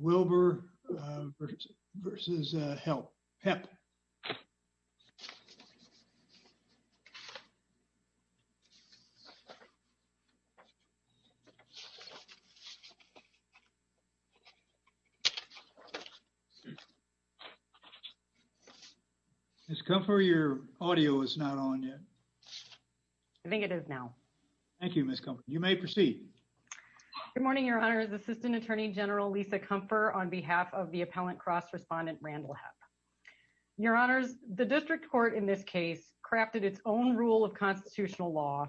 Wilber versus Hepp. Ms. Comfort, your audio is not on yet. I think it is now. Thank you, Ms. Comfort. You may proceed. Good morning, Your Honor. This is Assistant Attorney General Lisa Comfort on behalf of the appellant cross-respondent Randall Hepp. Your Honors, the District Court in this case crafted its own rule of constitutional law.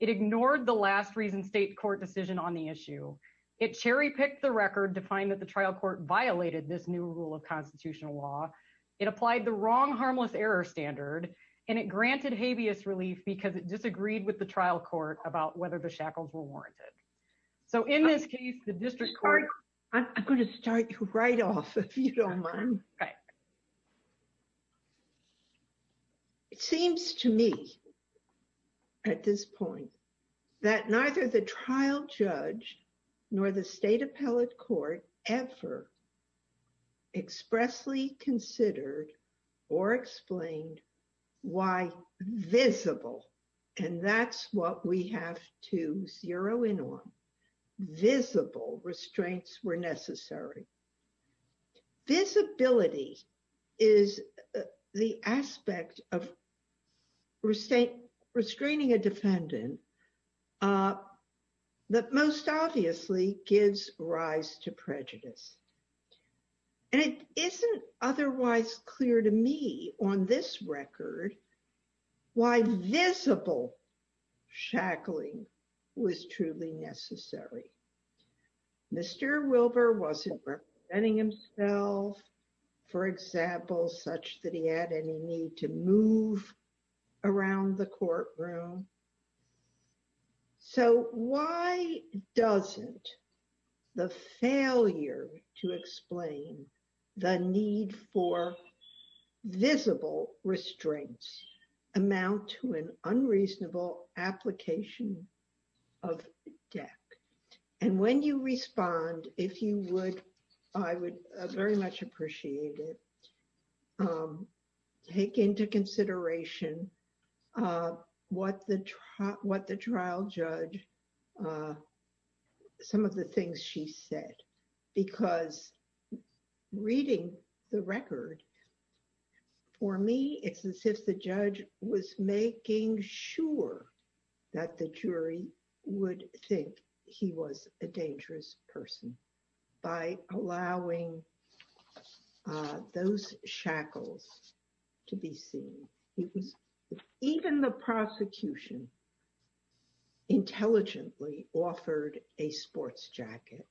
It ignored the last reason state court decision on the issue. It cherry-picked the record to find that the trial court violated this new rule of constitutional law. It applied the wrong harmless error standard, and it granted habeas relief because it disagreed with the trial court about whether the shackles were warranted. So, in this case, the District Court... I'm going to start you right off, if you don't mind. It seems to me at this point that neither the trial judge nor the state appellate court ever expressly considered or explained why visible — and that's what we have to zero in on — visible restraints were necessary. Visibility is the aspect of restraining a defendant that most obviously gives rise to prejudice. And it isn't otherwise clear to me on this record why visible shackling was truly necessary. Mr. Wilbur wasn't representing himself, for example, such that he had any need to move around the courtroom. So, why doesn't the failure to explain the need for visible restraints amount to an unreasonable application of death? And when you respond, if you would, I would very much appreciate it. Take into consideration what the trial judge, some of the things she said, because reading the record, for me, it's as if the judge was making sure that the jury would think he was a dangerous person by allowing those shackles to be seen. Even the prosecution intelligently offered a sports jacket. It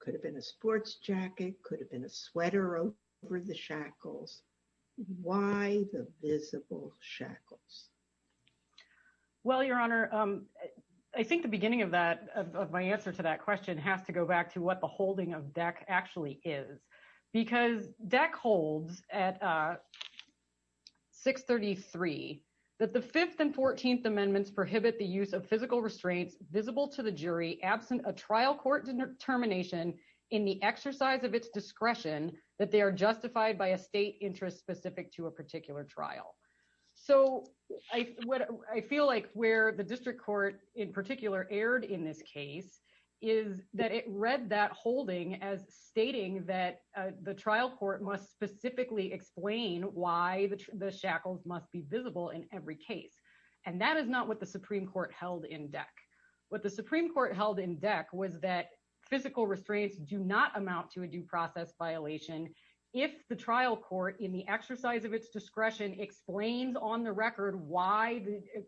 could have been a sports jacket, it could have been a sweater over the shackles. Why the visible shackles? Well, Your Honor, I think the beginning of that, of my answer to that question, has to go back to what the holding of DEC actually is. Because DEC holds at 633 that the Fifth and Fourteenth Amendments prohibit the use of physical restraints visible to the jury absent a trial court determination in the exercise of its discretion that they are justified by a state interest specific to a particular trial. So, I feel like where the district court in particular erred in this case is that it read that holding as stating that the trial court must specifically explain why the shackles must be visible in every case. And that is not what the Supreme Court held in DEC. What the Supreme Court held in DEC was that physical restraints do not amount to a due process violation if the trial court, in the exercise of its discretion, explains on the record why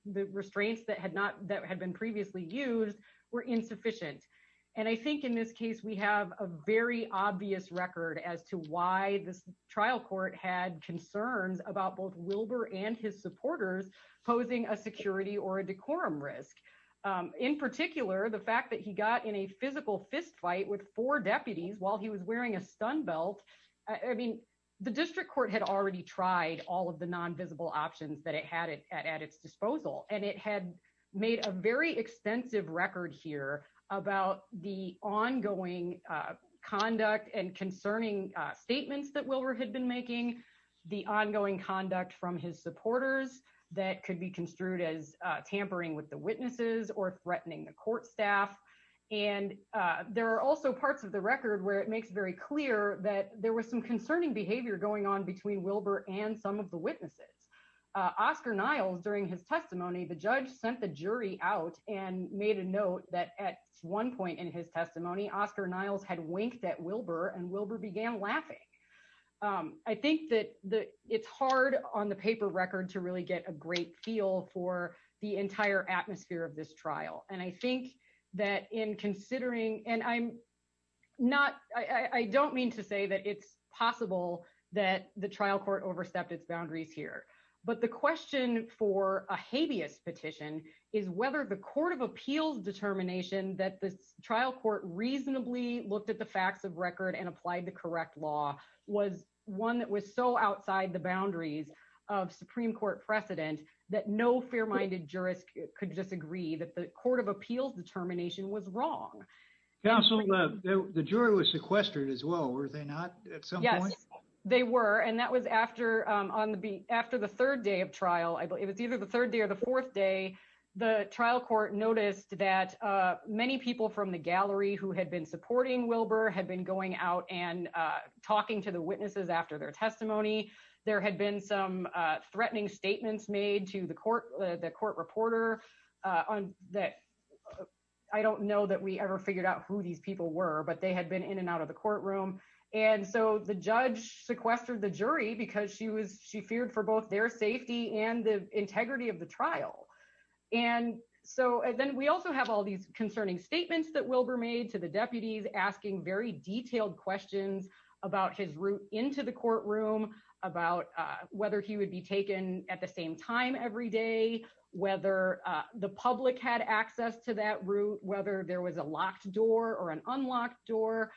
the restraints that had been previously used were insufficient. And I think in this case, we have a very obvious record as to why this trial court had concerns about both Wilbur and his supporters posing a security or a decorum risk. In particular, the fact that he got in a physical fistfight with four deputies while he was wearing a stun belt. I mean, the district court had already tried all of the non-visible options that it had at its disposal. And it had made a very extensive record here about the ongoing conduct and concerning statements that Wilbur had been making. The ongoing conduct from his supporters that could be construed as tampering with the witnesses or threatening the court staff. And there are also parts of the record where it makes very clear that there was some concerning behavior going on between Wilbur and some of the witnesses. Oscar Niles, during his testimony, the judge sent the jury out and made a note that at one point in his testimony, Oscar Niles had winked at Wilbur and Wilbur began laughing. I think that it's hard on the paper record to really get a great feel for the entire atmosphere of this trial. And I think that in considering, and I'm not, I don't mean to say that it's possible that the trial court overstepped its boundaries here, but the question for a habeas petition is whether the court of appeals determination that the trial court reasonably looked at the facts of record and applied the correct law was one that was so outside the boundaries of Supreme Court precedent that no fair-minded jurist could disagree that the court of appeals determination was wrong. Counsel, the jury was sequestered as well, were they not at some point? Yes, they were. And that was after the third day of trial. I believe it was either the third day or the fourth day. The trial court noticed that many people from the gallery who had been supporting Wilbur had been going out and talking to the witnesses after their testimony. There had been some threatening statements made to the court, reporter on that. I don't know that we ever figured out who these people were, but they had been in and out of the courtroom. And so the judge sequestered the jury because she was, she feared for both their safety and the integrity of the trial. And so then we also have all these concerning statements that Wilbur made to the deputies asking very detailed questions about his route into the the public had access to that route, whether there was a locked door or an unlocked door.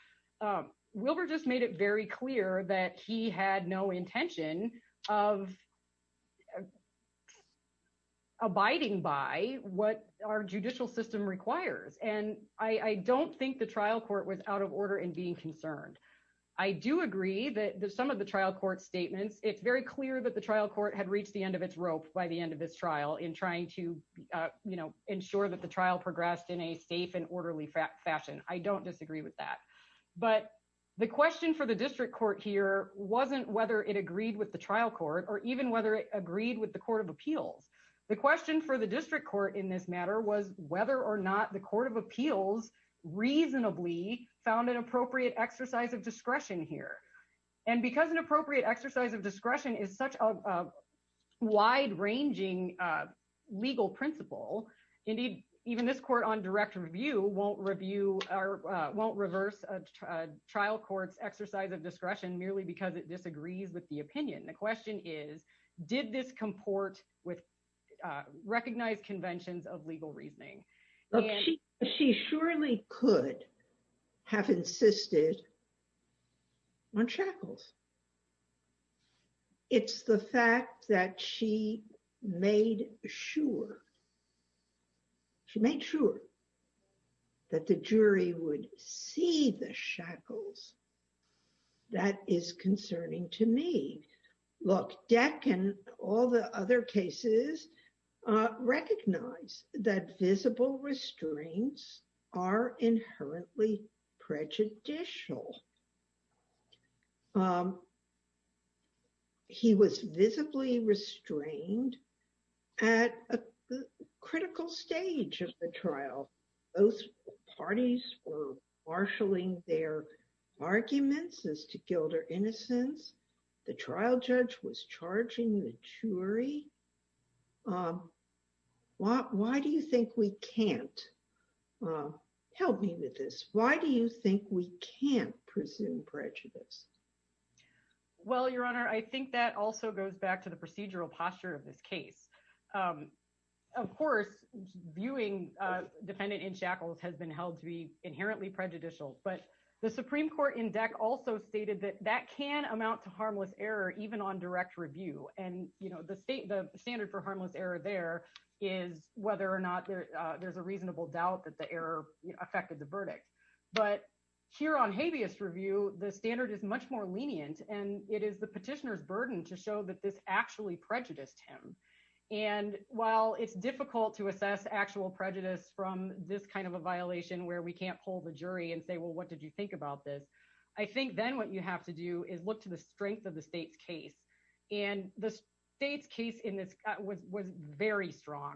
Wilbur just made it very clear that he had no intention of abiding by what our judicial system requires. And I don't think the trial court was out of order in being concerned. I do agree that some of the trial court statements, it's very clear that the trial court had reached the end of its rope by the end of this trial in trying to ensure that the trial progressed in a safe and orderly fashion. I don't disagree with that. But the question for the district court here wasn't whether it agreed with the trial court or even whether it agreed with the court of appeals. The question for the district court in this matter was whether or not the court of appeals reasonably found an appropriate exercise of discretion here. And because an appropriate exercise of discretion is such a wide ranging legal principle, indeed, even this court on direct review won't review or won't reverse a trial court's exercise of discretion merely because it disagrees with the opinion. The question is, did this comport with recognized conventions of legal reasoning? She surely could have insisted. On shackles. It's the fact that she made sure, she made sure that the jury would see the shackles. That is concerning to me. Look, Deck and all the other cases recognize that visible restraints are inherently prejudicial. He was visibly restrained at a critical stage of the trial. Both parties were marshaling their arguments as to guilt or innocence. The trial judge was helping with this. Why do you think we can't presume prejudice? Well, Your Honor, I think that also goes back to the procedural posture of this case. Of course, viewing defendant in shackles has been held to be inherently prejudicial. But the Supreme Court in Deck also stated that that can amount to harmless error, even on direct review. And the standard for harmless error there is whether or not there's reasonable doubt that the error affected the verdict. But here on habeas review, the standard is much more lenient. And it is the petitioner's burden to show that this actually prejudiced him. And while it's difficult to assess actual prejudice from this kind of a violation where we can't pull the jury and say, well, what did you think about this? I think then what you have to do is look to the strength of the state's case. And the state's case in this was very strong.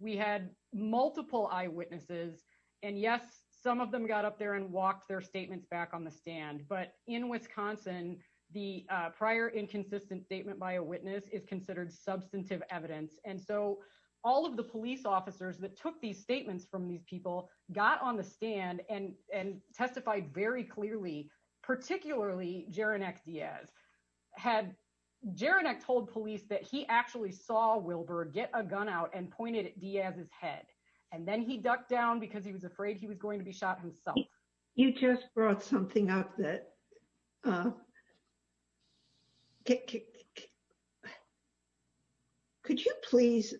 We had multiple eyewitnesses. And yes, some of them got up there and walked their statements back on the stand. But in Wisconsin, the prior inconsistent statement by a witness is considered substantive evidence. And so all of the police officers that took these statements from these people got on the stand and testified very clearly, particularly Jeronek Diaz. Had Jeronek told police that he actually saw Wilbur get a gun out and pointed at Diaz's head, and then he ducked down because he was afraid he was going to be shot himself. You just brought something up that could you please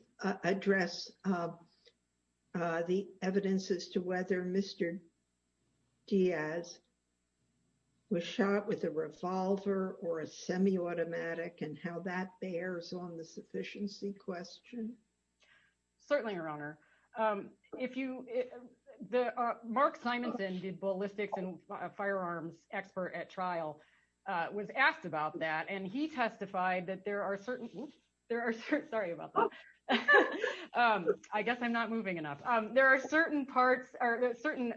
address the evidence as to whether Mr. Diaz was shot with a revolver or a semi-automatic and how that bears on the sufficiency question? Certainly, Your Honor. Mark Simonson, the ballistics and firearms expert at trial was asked about that. And he testified that there are certain... Sorry about that. I guess I'm not moving enough. There are certain parts or certain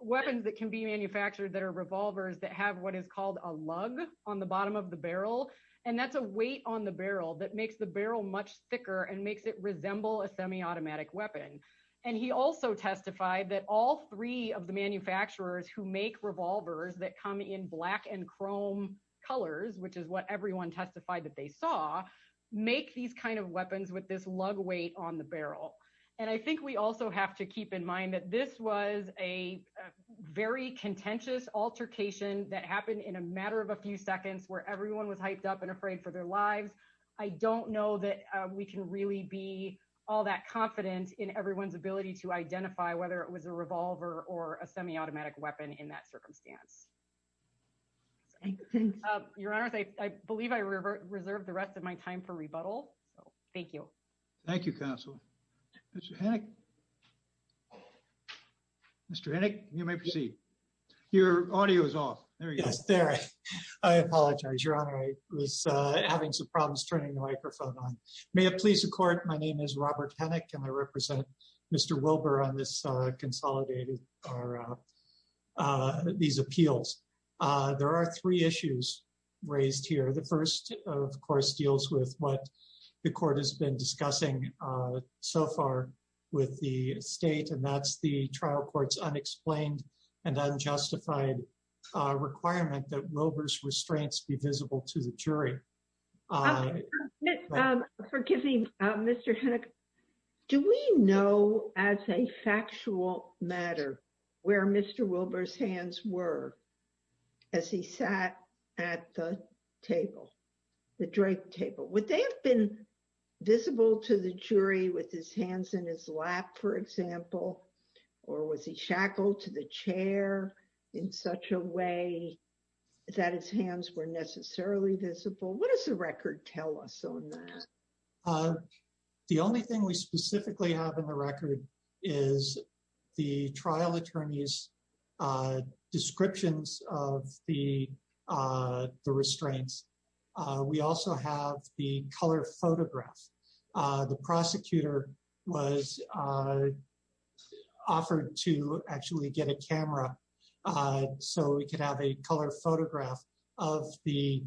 weapons that can be manufactured that are revolvers that have what is called a lug on the bottom of the barrel. And that's a weight on the barrel that makes the barrel much thicker and makes it resemble a semi-automatic weapon. And he also testified that all three of the manufacturers who make revolvers that come in black and chrome colors, which is what everyone testified that they saw, make these kinds of weapons with this lug weight on the barrel. And I think we also have to keep in mind that this was a very contentious altercation that happened in a matter of a few seconds where everyone was hyped up and afraid for their lives. I don't know that we can really be all that confident in everyone's ability to identify whether it was a revolver or a semi-automatic weapon in that circumstance. Your Honor, I believe I reserve the rest of my time for rebuttal. So thank you. Thank you, Counselor. Mr. Hennick, you may proceed. Your audio is off. Yes, there. I apologize, Your Honor. I was having some problems turning the microphone on. May it please the Court, my name is Robert Hennick and I represent Mr. Wilbur on this consolidated these appeals. There are three issues raised here. The first, of course, deals with what the Court has been discussing so far with the state, and that's the trial court's unexplained and unjustified requirement that Wilbur's restraints be visible to the jury. Forgive me, Mr. Hennick. Do we know as a factual matter where Mr. Wilbur's hands were as he sat at the table, the draped table? Would they have been visible to the jury with his hands in his lap, for example? Or was he shackled to the chair in such a way that his hands were necessarily visible? What does the record tell us on that? The only thing we specifically have the record is the trial attorney's descriptions of the restraints. We also have the color photograph. The prosecutor was offered to actually get a camera so we could have a color photograph of the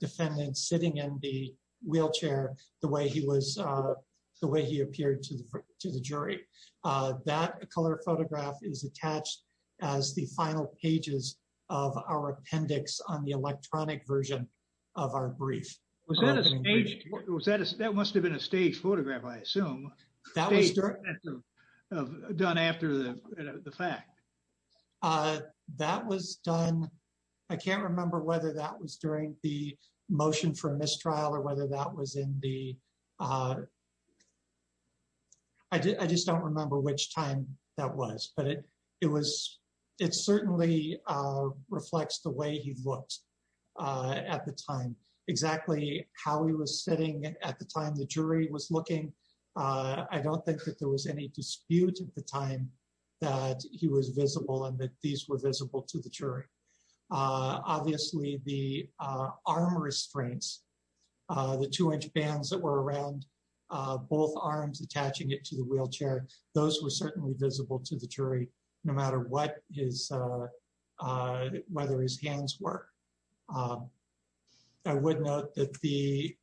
defendant sitting in the wheelchair the way he appeared to the jury. That color photograph is attached as the final pages of our appendix on the electronic version of our brief. That must have been a staged photograph, I assume, done after the fact. I can't remember whether that was during the motion for mistrial or whether that was in the I just don't remember which time that was, but it certainly reflects the way he looked at the time, exactly how he was sitting at the time the jury was looking. I don't think that there was any dispute at the time that he was visible and that these were visible to the jury. Obviously, the arm restraints, the two-inch bands that were around both arms attaching it to the wheelchair, those were certainly visible to the jury no matter whether his hands were. I would note that the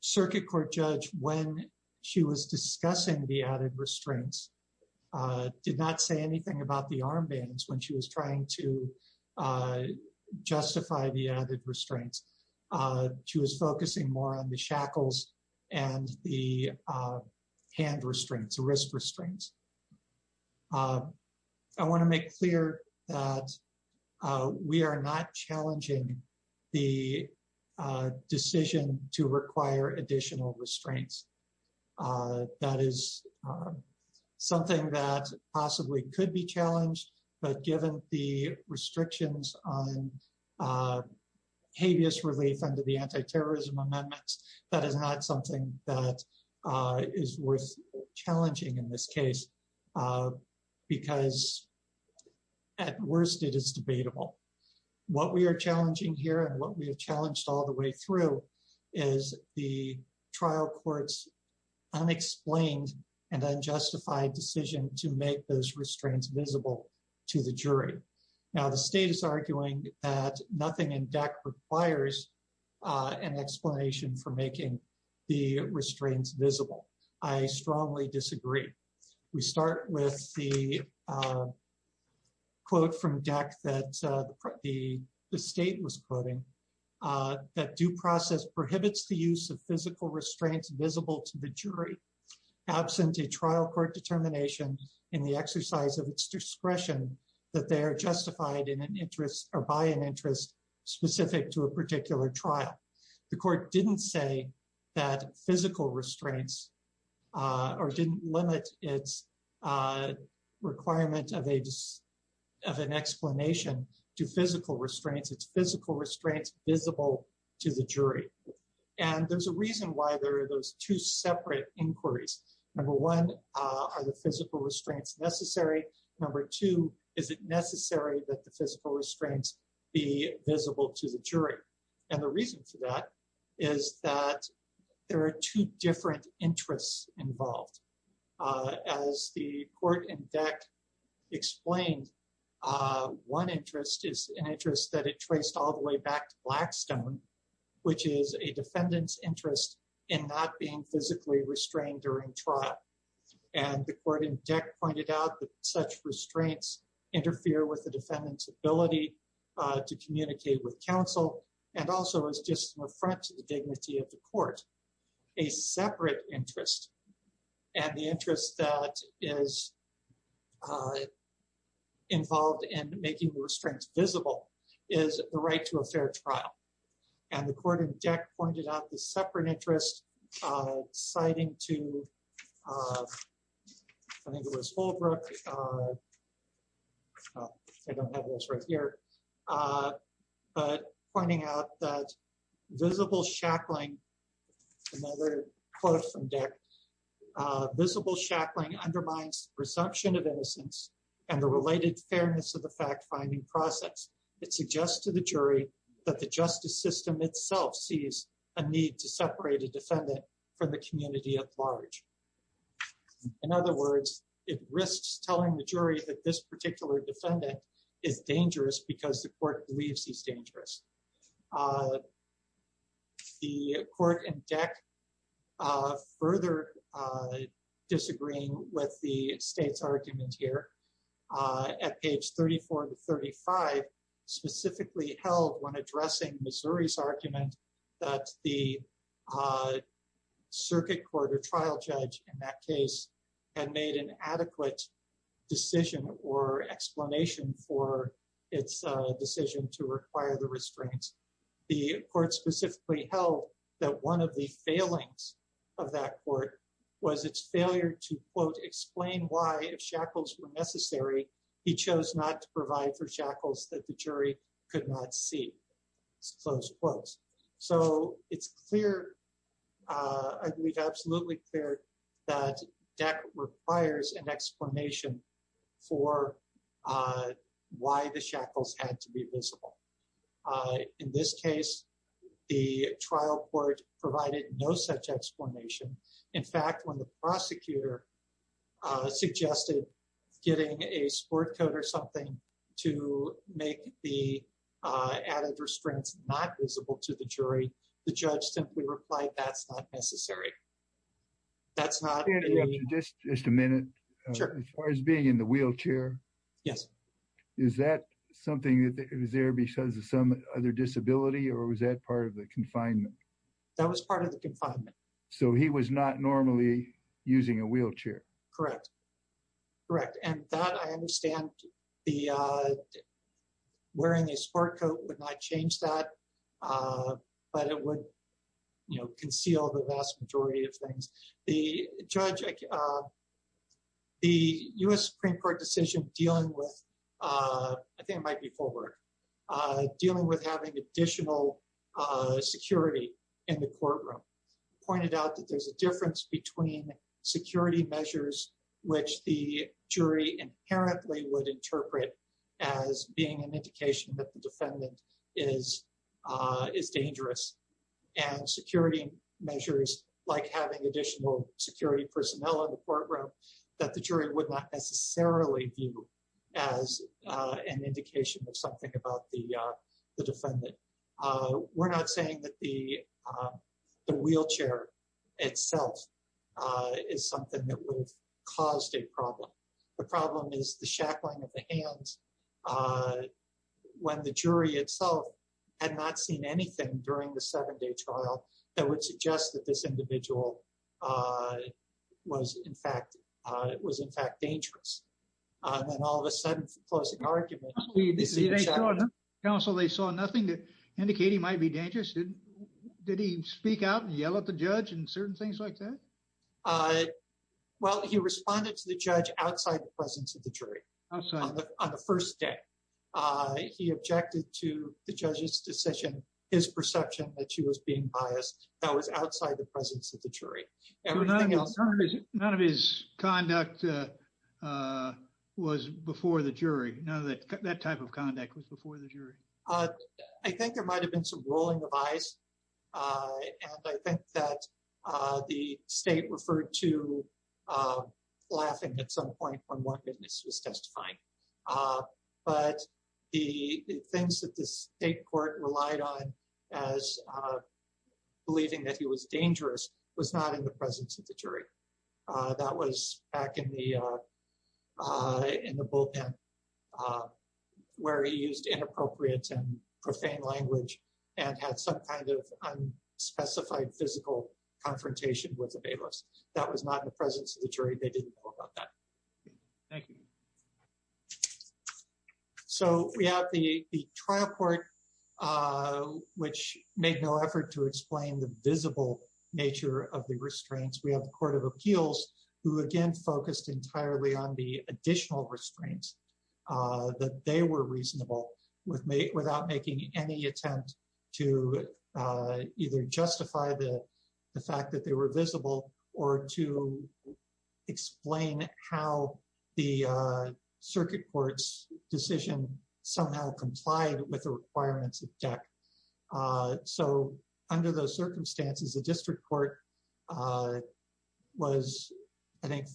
circuit court judge, when she was discussing the added restraints, did not say anything about the arm bands when she was trying to justify the added restraints. She was focusing more on the shackles and the hand restraints, the wrist restraints. I want to make clear that we are not challenging the decision to require additional restraints. That is something that possibly could be challenged, but given the restrictions on habeas relief under the anti-terrorism amendments, that is not something that is worth challenging in this case because at worst, it is debatable. What we are challenging here and what we have challenged all the way through is the trial court's unexplained and unjustified decision to make those restraints visible to the jury. Now, the state is arguing that nothing in DECC requires an explanation for making the restraints visible. I strongly disagree. We start with the quote from DECC that the state was quoting, that due process prohibits the use of physical restraints visible to the jury absent a trial court determination in the exercise of its discretion that they are justified in an interest or by an interest specific to a particular trial. The court did not say that physical restraints or did not limit its requirement of an explanation to physical restraints. It is physical restraints visible to the jury. There is a reason why there are those two separate inquiries. Number one, are the physical restraints necessary? Number two, is it necessary that the physical restraints be visible to the jury? The reason for that is that there are two different interests involved. As the court in DECC explained, one interest is an interest that it traced all the way back to Blackstone, which is a defendant's not being physically restrained during trial. And the court in DECC pointed out that such restraints interfere with the defendant's ability to communicate with counsel and also is just an affront to the dignity of the court, a separate interest. And the interest that is involved in making the restraints visible is the right to a fair trial. And the court in DECC pointed out the separate interest citing to, I think it was Holbrook, I don't have this right here, but pointing out that visible shackling, another quote from DECC, visible shackling undermines presumption of innocence and the related fairness of the process. It suggests to the jury that the justice system itself sees a need to separate a defendant from the community at large. In other words, it risks telling the jury that this particular defendant is dangerous because the court believes he's dangerous. The court in DECC further disagreeing with the state's argument here at page 34 to 35 specifically held when addressing Missouri's argument that the circuit court or trial judge in that case had made an adequate decision or explanation for its decision to require the restraints. The court specifically held that one of the failings of that court was its failure to quote, explain why if shackles were necessary, he chose not to provide for shackles that the jury could not see, close quotes. So it's clear, I believe absolutely clear that DECC requires an explanation for why the shackles had to be visible. In this case, the trial court provided no such explanation. In fact, when the prosecutor suggested getting a sport coat or something to make the added restraints not visible to the jury, the judge simply replied, that's not necessary. That's not- Just a minute. As far as being in the wheelchair. Yes. Is that something that was there because of some other disability or was that part of the confinement? That was part of the confinement. So he was not normally using a wheelchair. Correct. Correct. And that I understand wearing a sport coat would not change that, but it would conceal the vast majority of things. The judge, the US Supreme Court decision dealing with, I think it might be forward, dealing with having additional security in the courtroom, pointed out that there's a difference between security measures, which the jury inherently would interpret as being an indication that the defendant is dangerous and security measures like having additional security personnel in the courtroom that the jury would not necessarily view as an indication of something about the defendant. We're not saying that the wheelchair itself is something that would have itself had not seen anything during the seven day trial that would suggest that this individual was in fact dangerous. And then all of a sudden for closing argument- Counsel, they saw nothing to indicate he might be dangerous. Did he speak out and yell at the judge and certain things like that? Well, he responded to the judge outside the presence of the jury on the first day. He objected to the judge's decision, his perception that she was being biased that was outside the presence of the jury. Everything else- None of his conduct was before the jury. That type of conduct was before the jury. I think there might've been some rolling of eyes. And I think that the state referred to laughing at some point when one witness was testifying. But the things that the state court relied on as believing that he was dangerous was not in the presence of the jury. That was back in the bullpen where he used inappropriate and profane language and had some kind of unspecified physical confrontation with the bailiffs. That was not in the presence of the jury. They didn't know about that. Thank you. So we have the trial court, which made no effort to explain the visible nature of the restraints. We have the court of appeals, who again, focused entirely on the additional restraints that they were reasonable without making any attempt to either justify the fact that they were visible or to explain how the circuit court's decision somehow complied with the requirements of restraints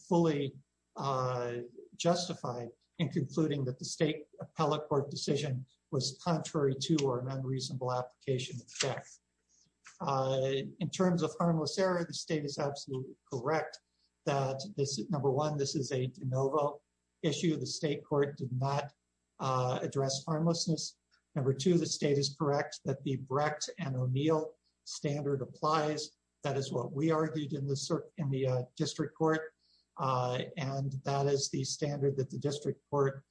were justified in concluding that the state appellate court decision was contrary to or an unreasonable application of the fact. In terms of harmless error, the state is absolutely correct that number one, this is a de novo issue. The state court did not address harmlessness. Number two, the state is correct that the Brecht and O'Neill standard applies. That is what we argued in the district court. And that is the standard that the district court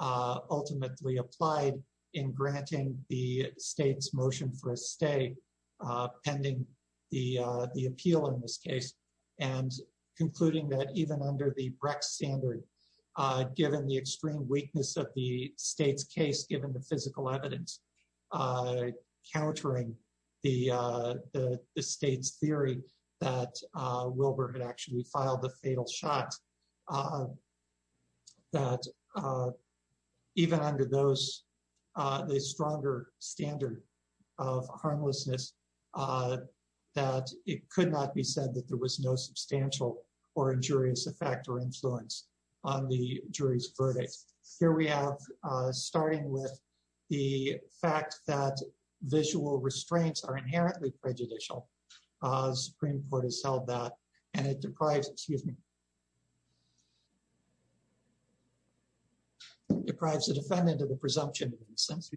ultimately applied in granting the state's motion for a stay pending the appeal in this case and concluding that even under the Brecht standard, given the extreme weakness of the state's case, given the physical evidence, countering the state's theory that Wilbur had actually filed the fatal shot, that even under the stronger standard of harmlessness, that it could not be said that there was no substantial or injurious effect or influence on the jury's verdict. Here we have, starting with the fact that visual restraints are inherently prejudicial, Supreme Court has held that and it deprives the defendant of the presumption. In a sense,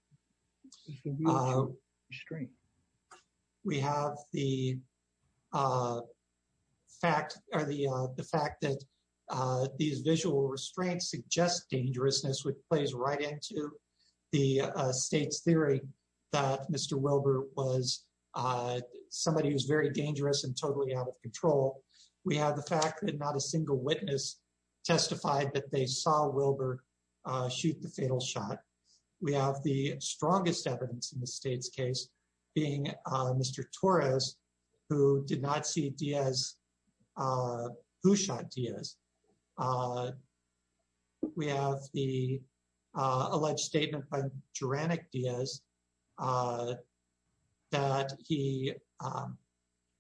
we have the fact that these visual restraints suggest dangerousness, which plays right into the state's theory that Mr. Wilbur was somebody who's very dangerous and totally out of control. We have the fact that not a single witness testified that they saw Wilbur shoot the fatal shot. We have the strongest evidence in the state's case being Mr. Torres, who did not see Diaz, who shot Diaz. We have the alleged statement by Geranic Diaz that he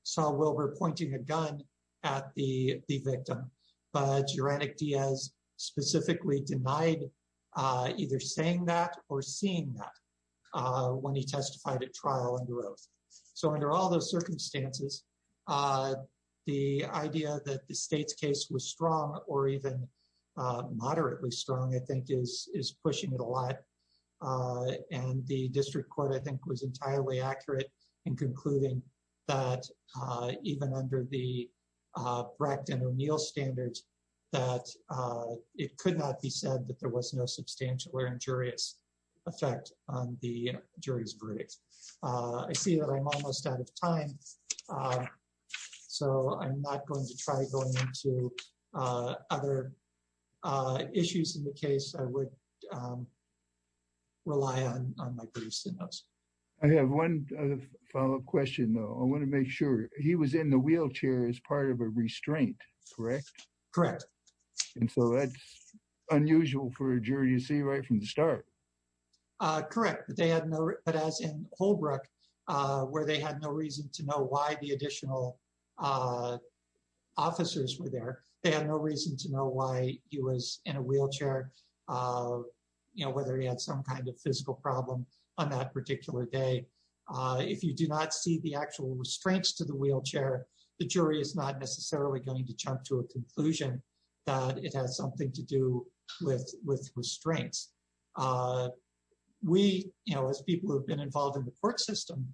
saw Wilbur pointing a gun at the victim, but Geranic Diaz specifically denied either saying that or seeing that when he testified at trial and growth. So under all those circumstances, the idea that the state's case was strong or even was entirely accurate in concluding that even under the Brecht and O'Neill standards, that it could not be said that there was no substantial or injurious effect on the jury's verdict. I see that I'm almost out of time, so I'm not going to try going into other issues in the case I would rely on. I have one follow-up question, though. I want to make sure he was in the wheelchair as part of a restraint, correct? Correct. And so that's unusual for a jury to see right from the start. Correct. But as in Holbrook, where they had no reason to know why the additional officers were there, they had no reason to know why he was in a wheelchair, whether he had some kind of physical problem on that particular day. If you do not see the actual restraints to the wheelchair, the jury is not necessarily going to jump to a conclusion that it has something to do with restraints. We, as people who have been involved in the system,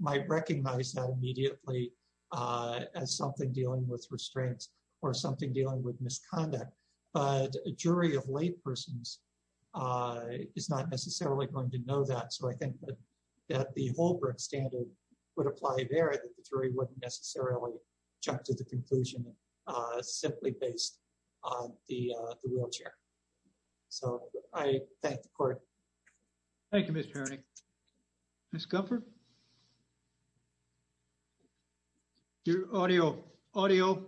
might recognize that immediately as something dealing with restraints or something dealing with misconduct. But a jury of laypersons is not necessarily going to know that. So I think that the Holbrook standard would apply there, that the jury wouldn't necessarily jump to the conclusion simply based on the wheelchair. So I thank the court. Thank you, Mr. Herning. Ms. Gunford? Your audio. Audio.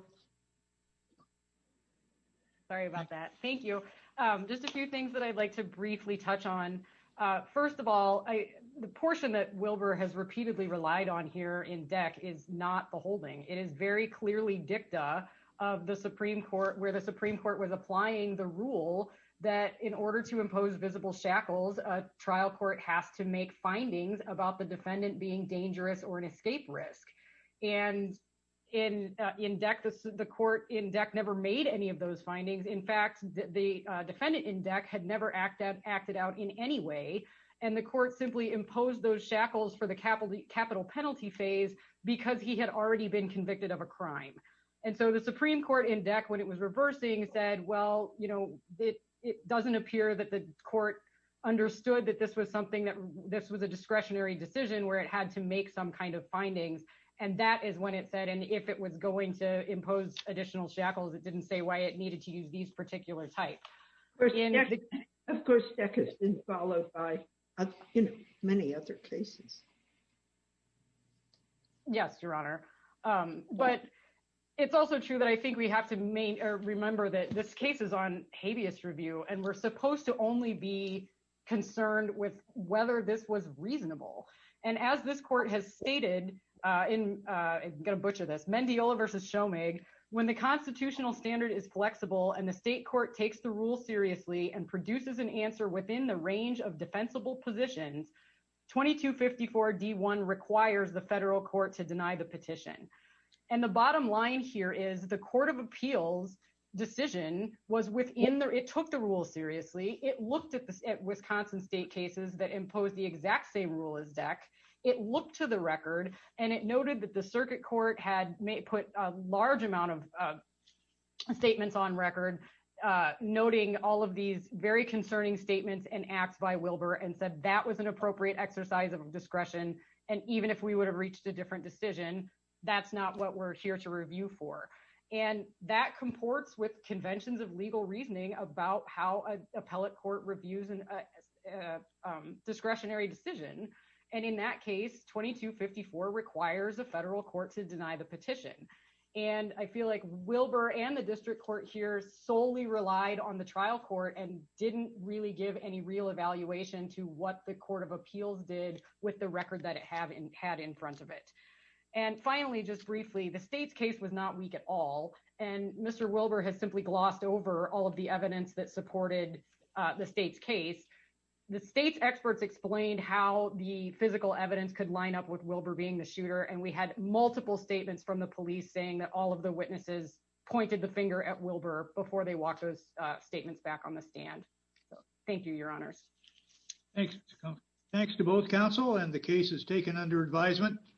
Sorry about that. Thank you. Just a few things that I'd like to briefly touch on. First of all, the portion that Wilbur has repeatedly relied on here in DEC is not the holding. It is very clearly dicta of the Supreme Court, where the Supreme Court was applying the trial court has to make findings about the defendant being dangerous or an escape risk. And in DEC, the court in DEC never made any of those findings. In fact, the defendant in DEC had never acted out in any way. And the court simply imposed those shackles for the capital penalty phase because he had already been convicted of a crime. And so the Supreme Court in DEC, when it was reversing, said, well, you know, it doesn't appear that the court understood that this was something that this was a discretionary decision where it had to make some kind of findings. And that is when it said, and if it was going to impose additional shackles, it didn't say why it needed to use these particular types. Of course, that has been followed by many other cases. Yes, Your Honor. But it's also true that I think we have to remember that this case is on habeas review, and we're supposed to only be concerned with whether this was reasonable. And as this court has stated, I'm going to butcher this, Mendiola versus Shomig, when the constitutional standard is flexible and the state court takes the rule seriously and produces an answer within the range of defensible positions, 2254 D1 requires the federal court to deny the petition. And the bottom line here is the court of appeals decision was within the, it took the rule seriously. It looked at the Wisconsin state cases that impose the exact same rule as DEC. It looked to the record and it noted that the circuit court had put a large amount of statements on record, noting all of these very concerning statements and acts by Wilbur and said that was an appropriate exercise of discretion. And even if we would have reached a different decision, that's not what we're here to review for. And that comports with conventions of legal reasoning about how an appellate court reviews an discretionary decision. And in that case, 2254 requires a federal court to deny the petition. And I feel like Wilbur and the district court here solely relied on the trial court and didn't really give any real evaluation to what the court of appeals did with the record that it had in front of it. And finally, just briefly, the state's case was not weak at all. And Mr. Wilbur has simply glossed over all of the evidence that supported the state's case. The state's experts explained how the physical evidence could line up with Wilbur being the shooter. And we had multiple statements from the police saying that all of the witnesses pointed the finger at Wilbur before they walked those statements back on the stand. So thank you, your honors. Thanks. Thanks to both counsel and the cases taken under advisement.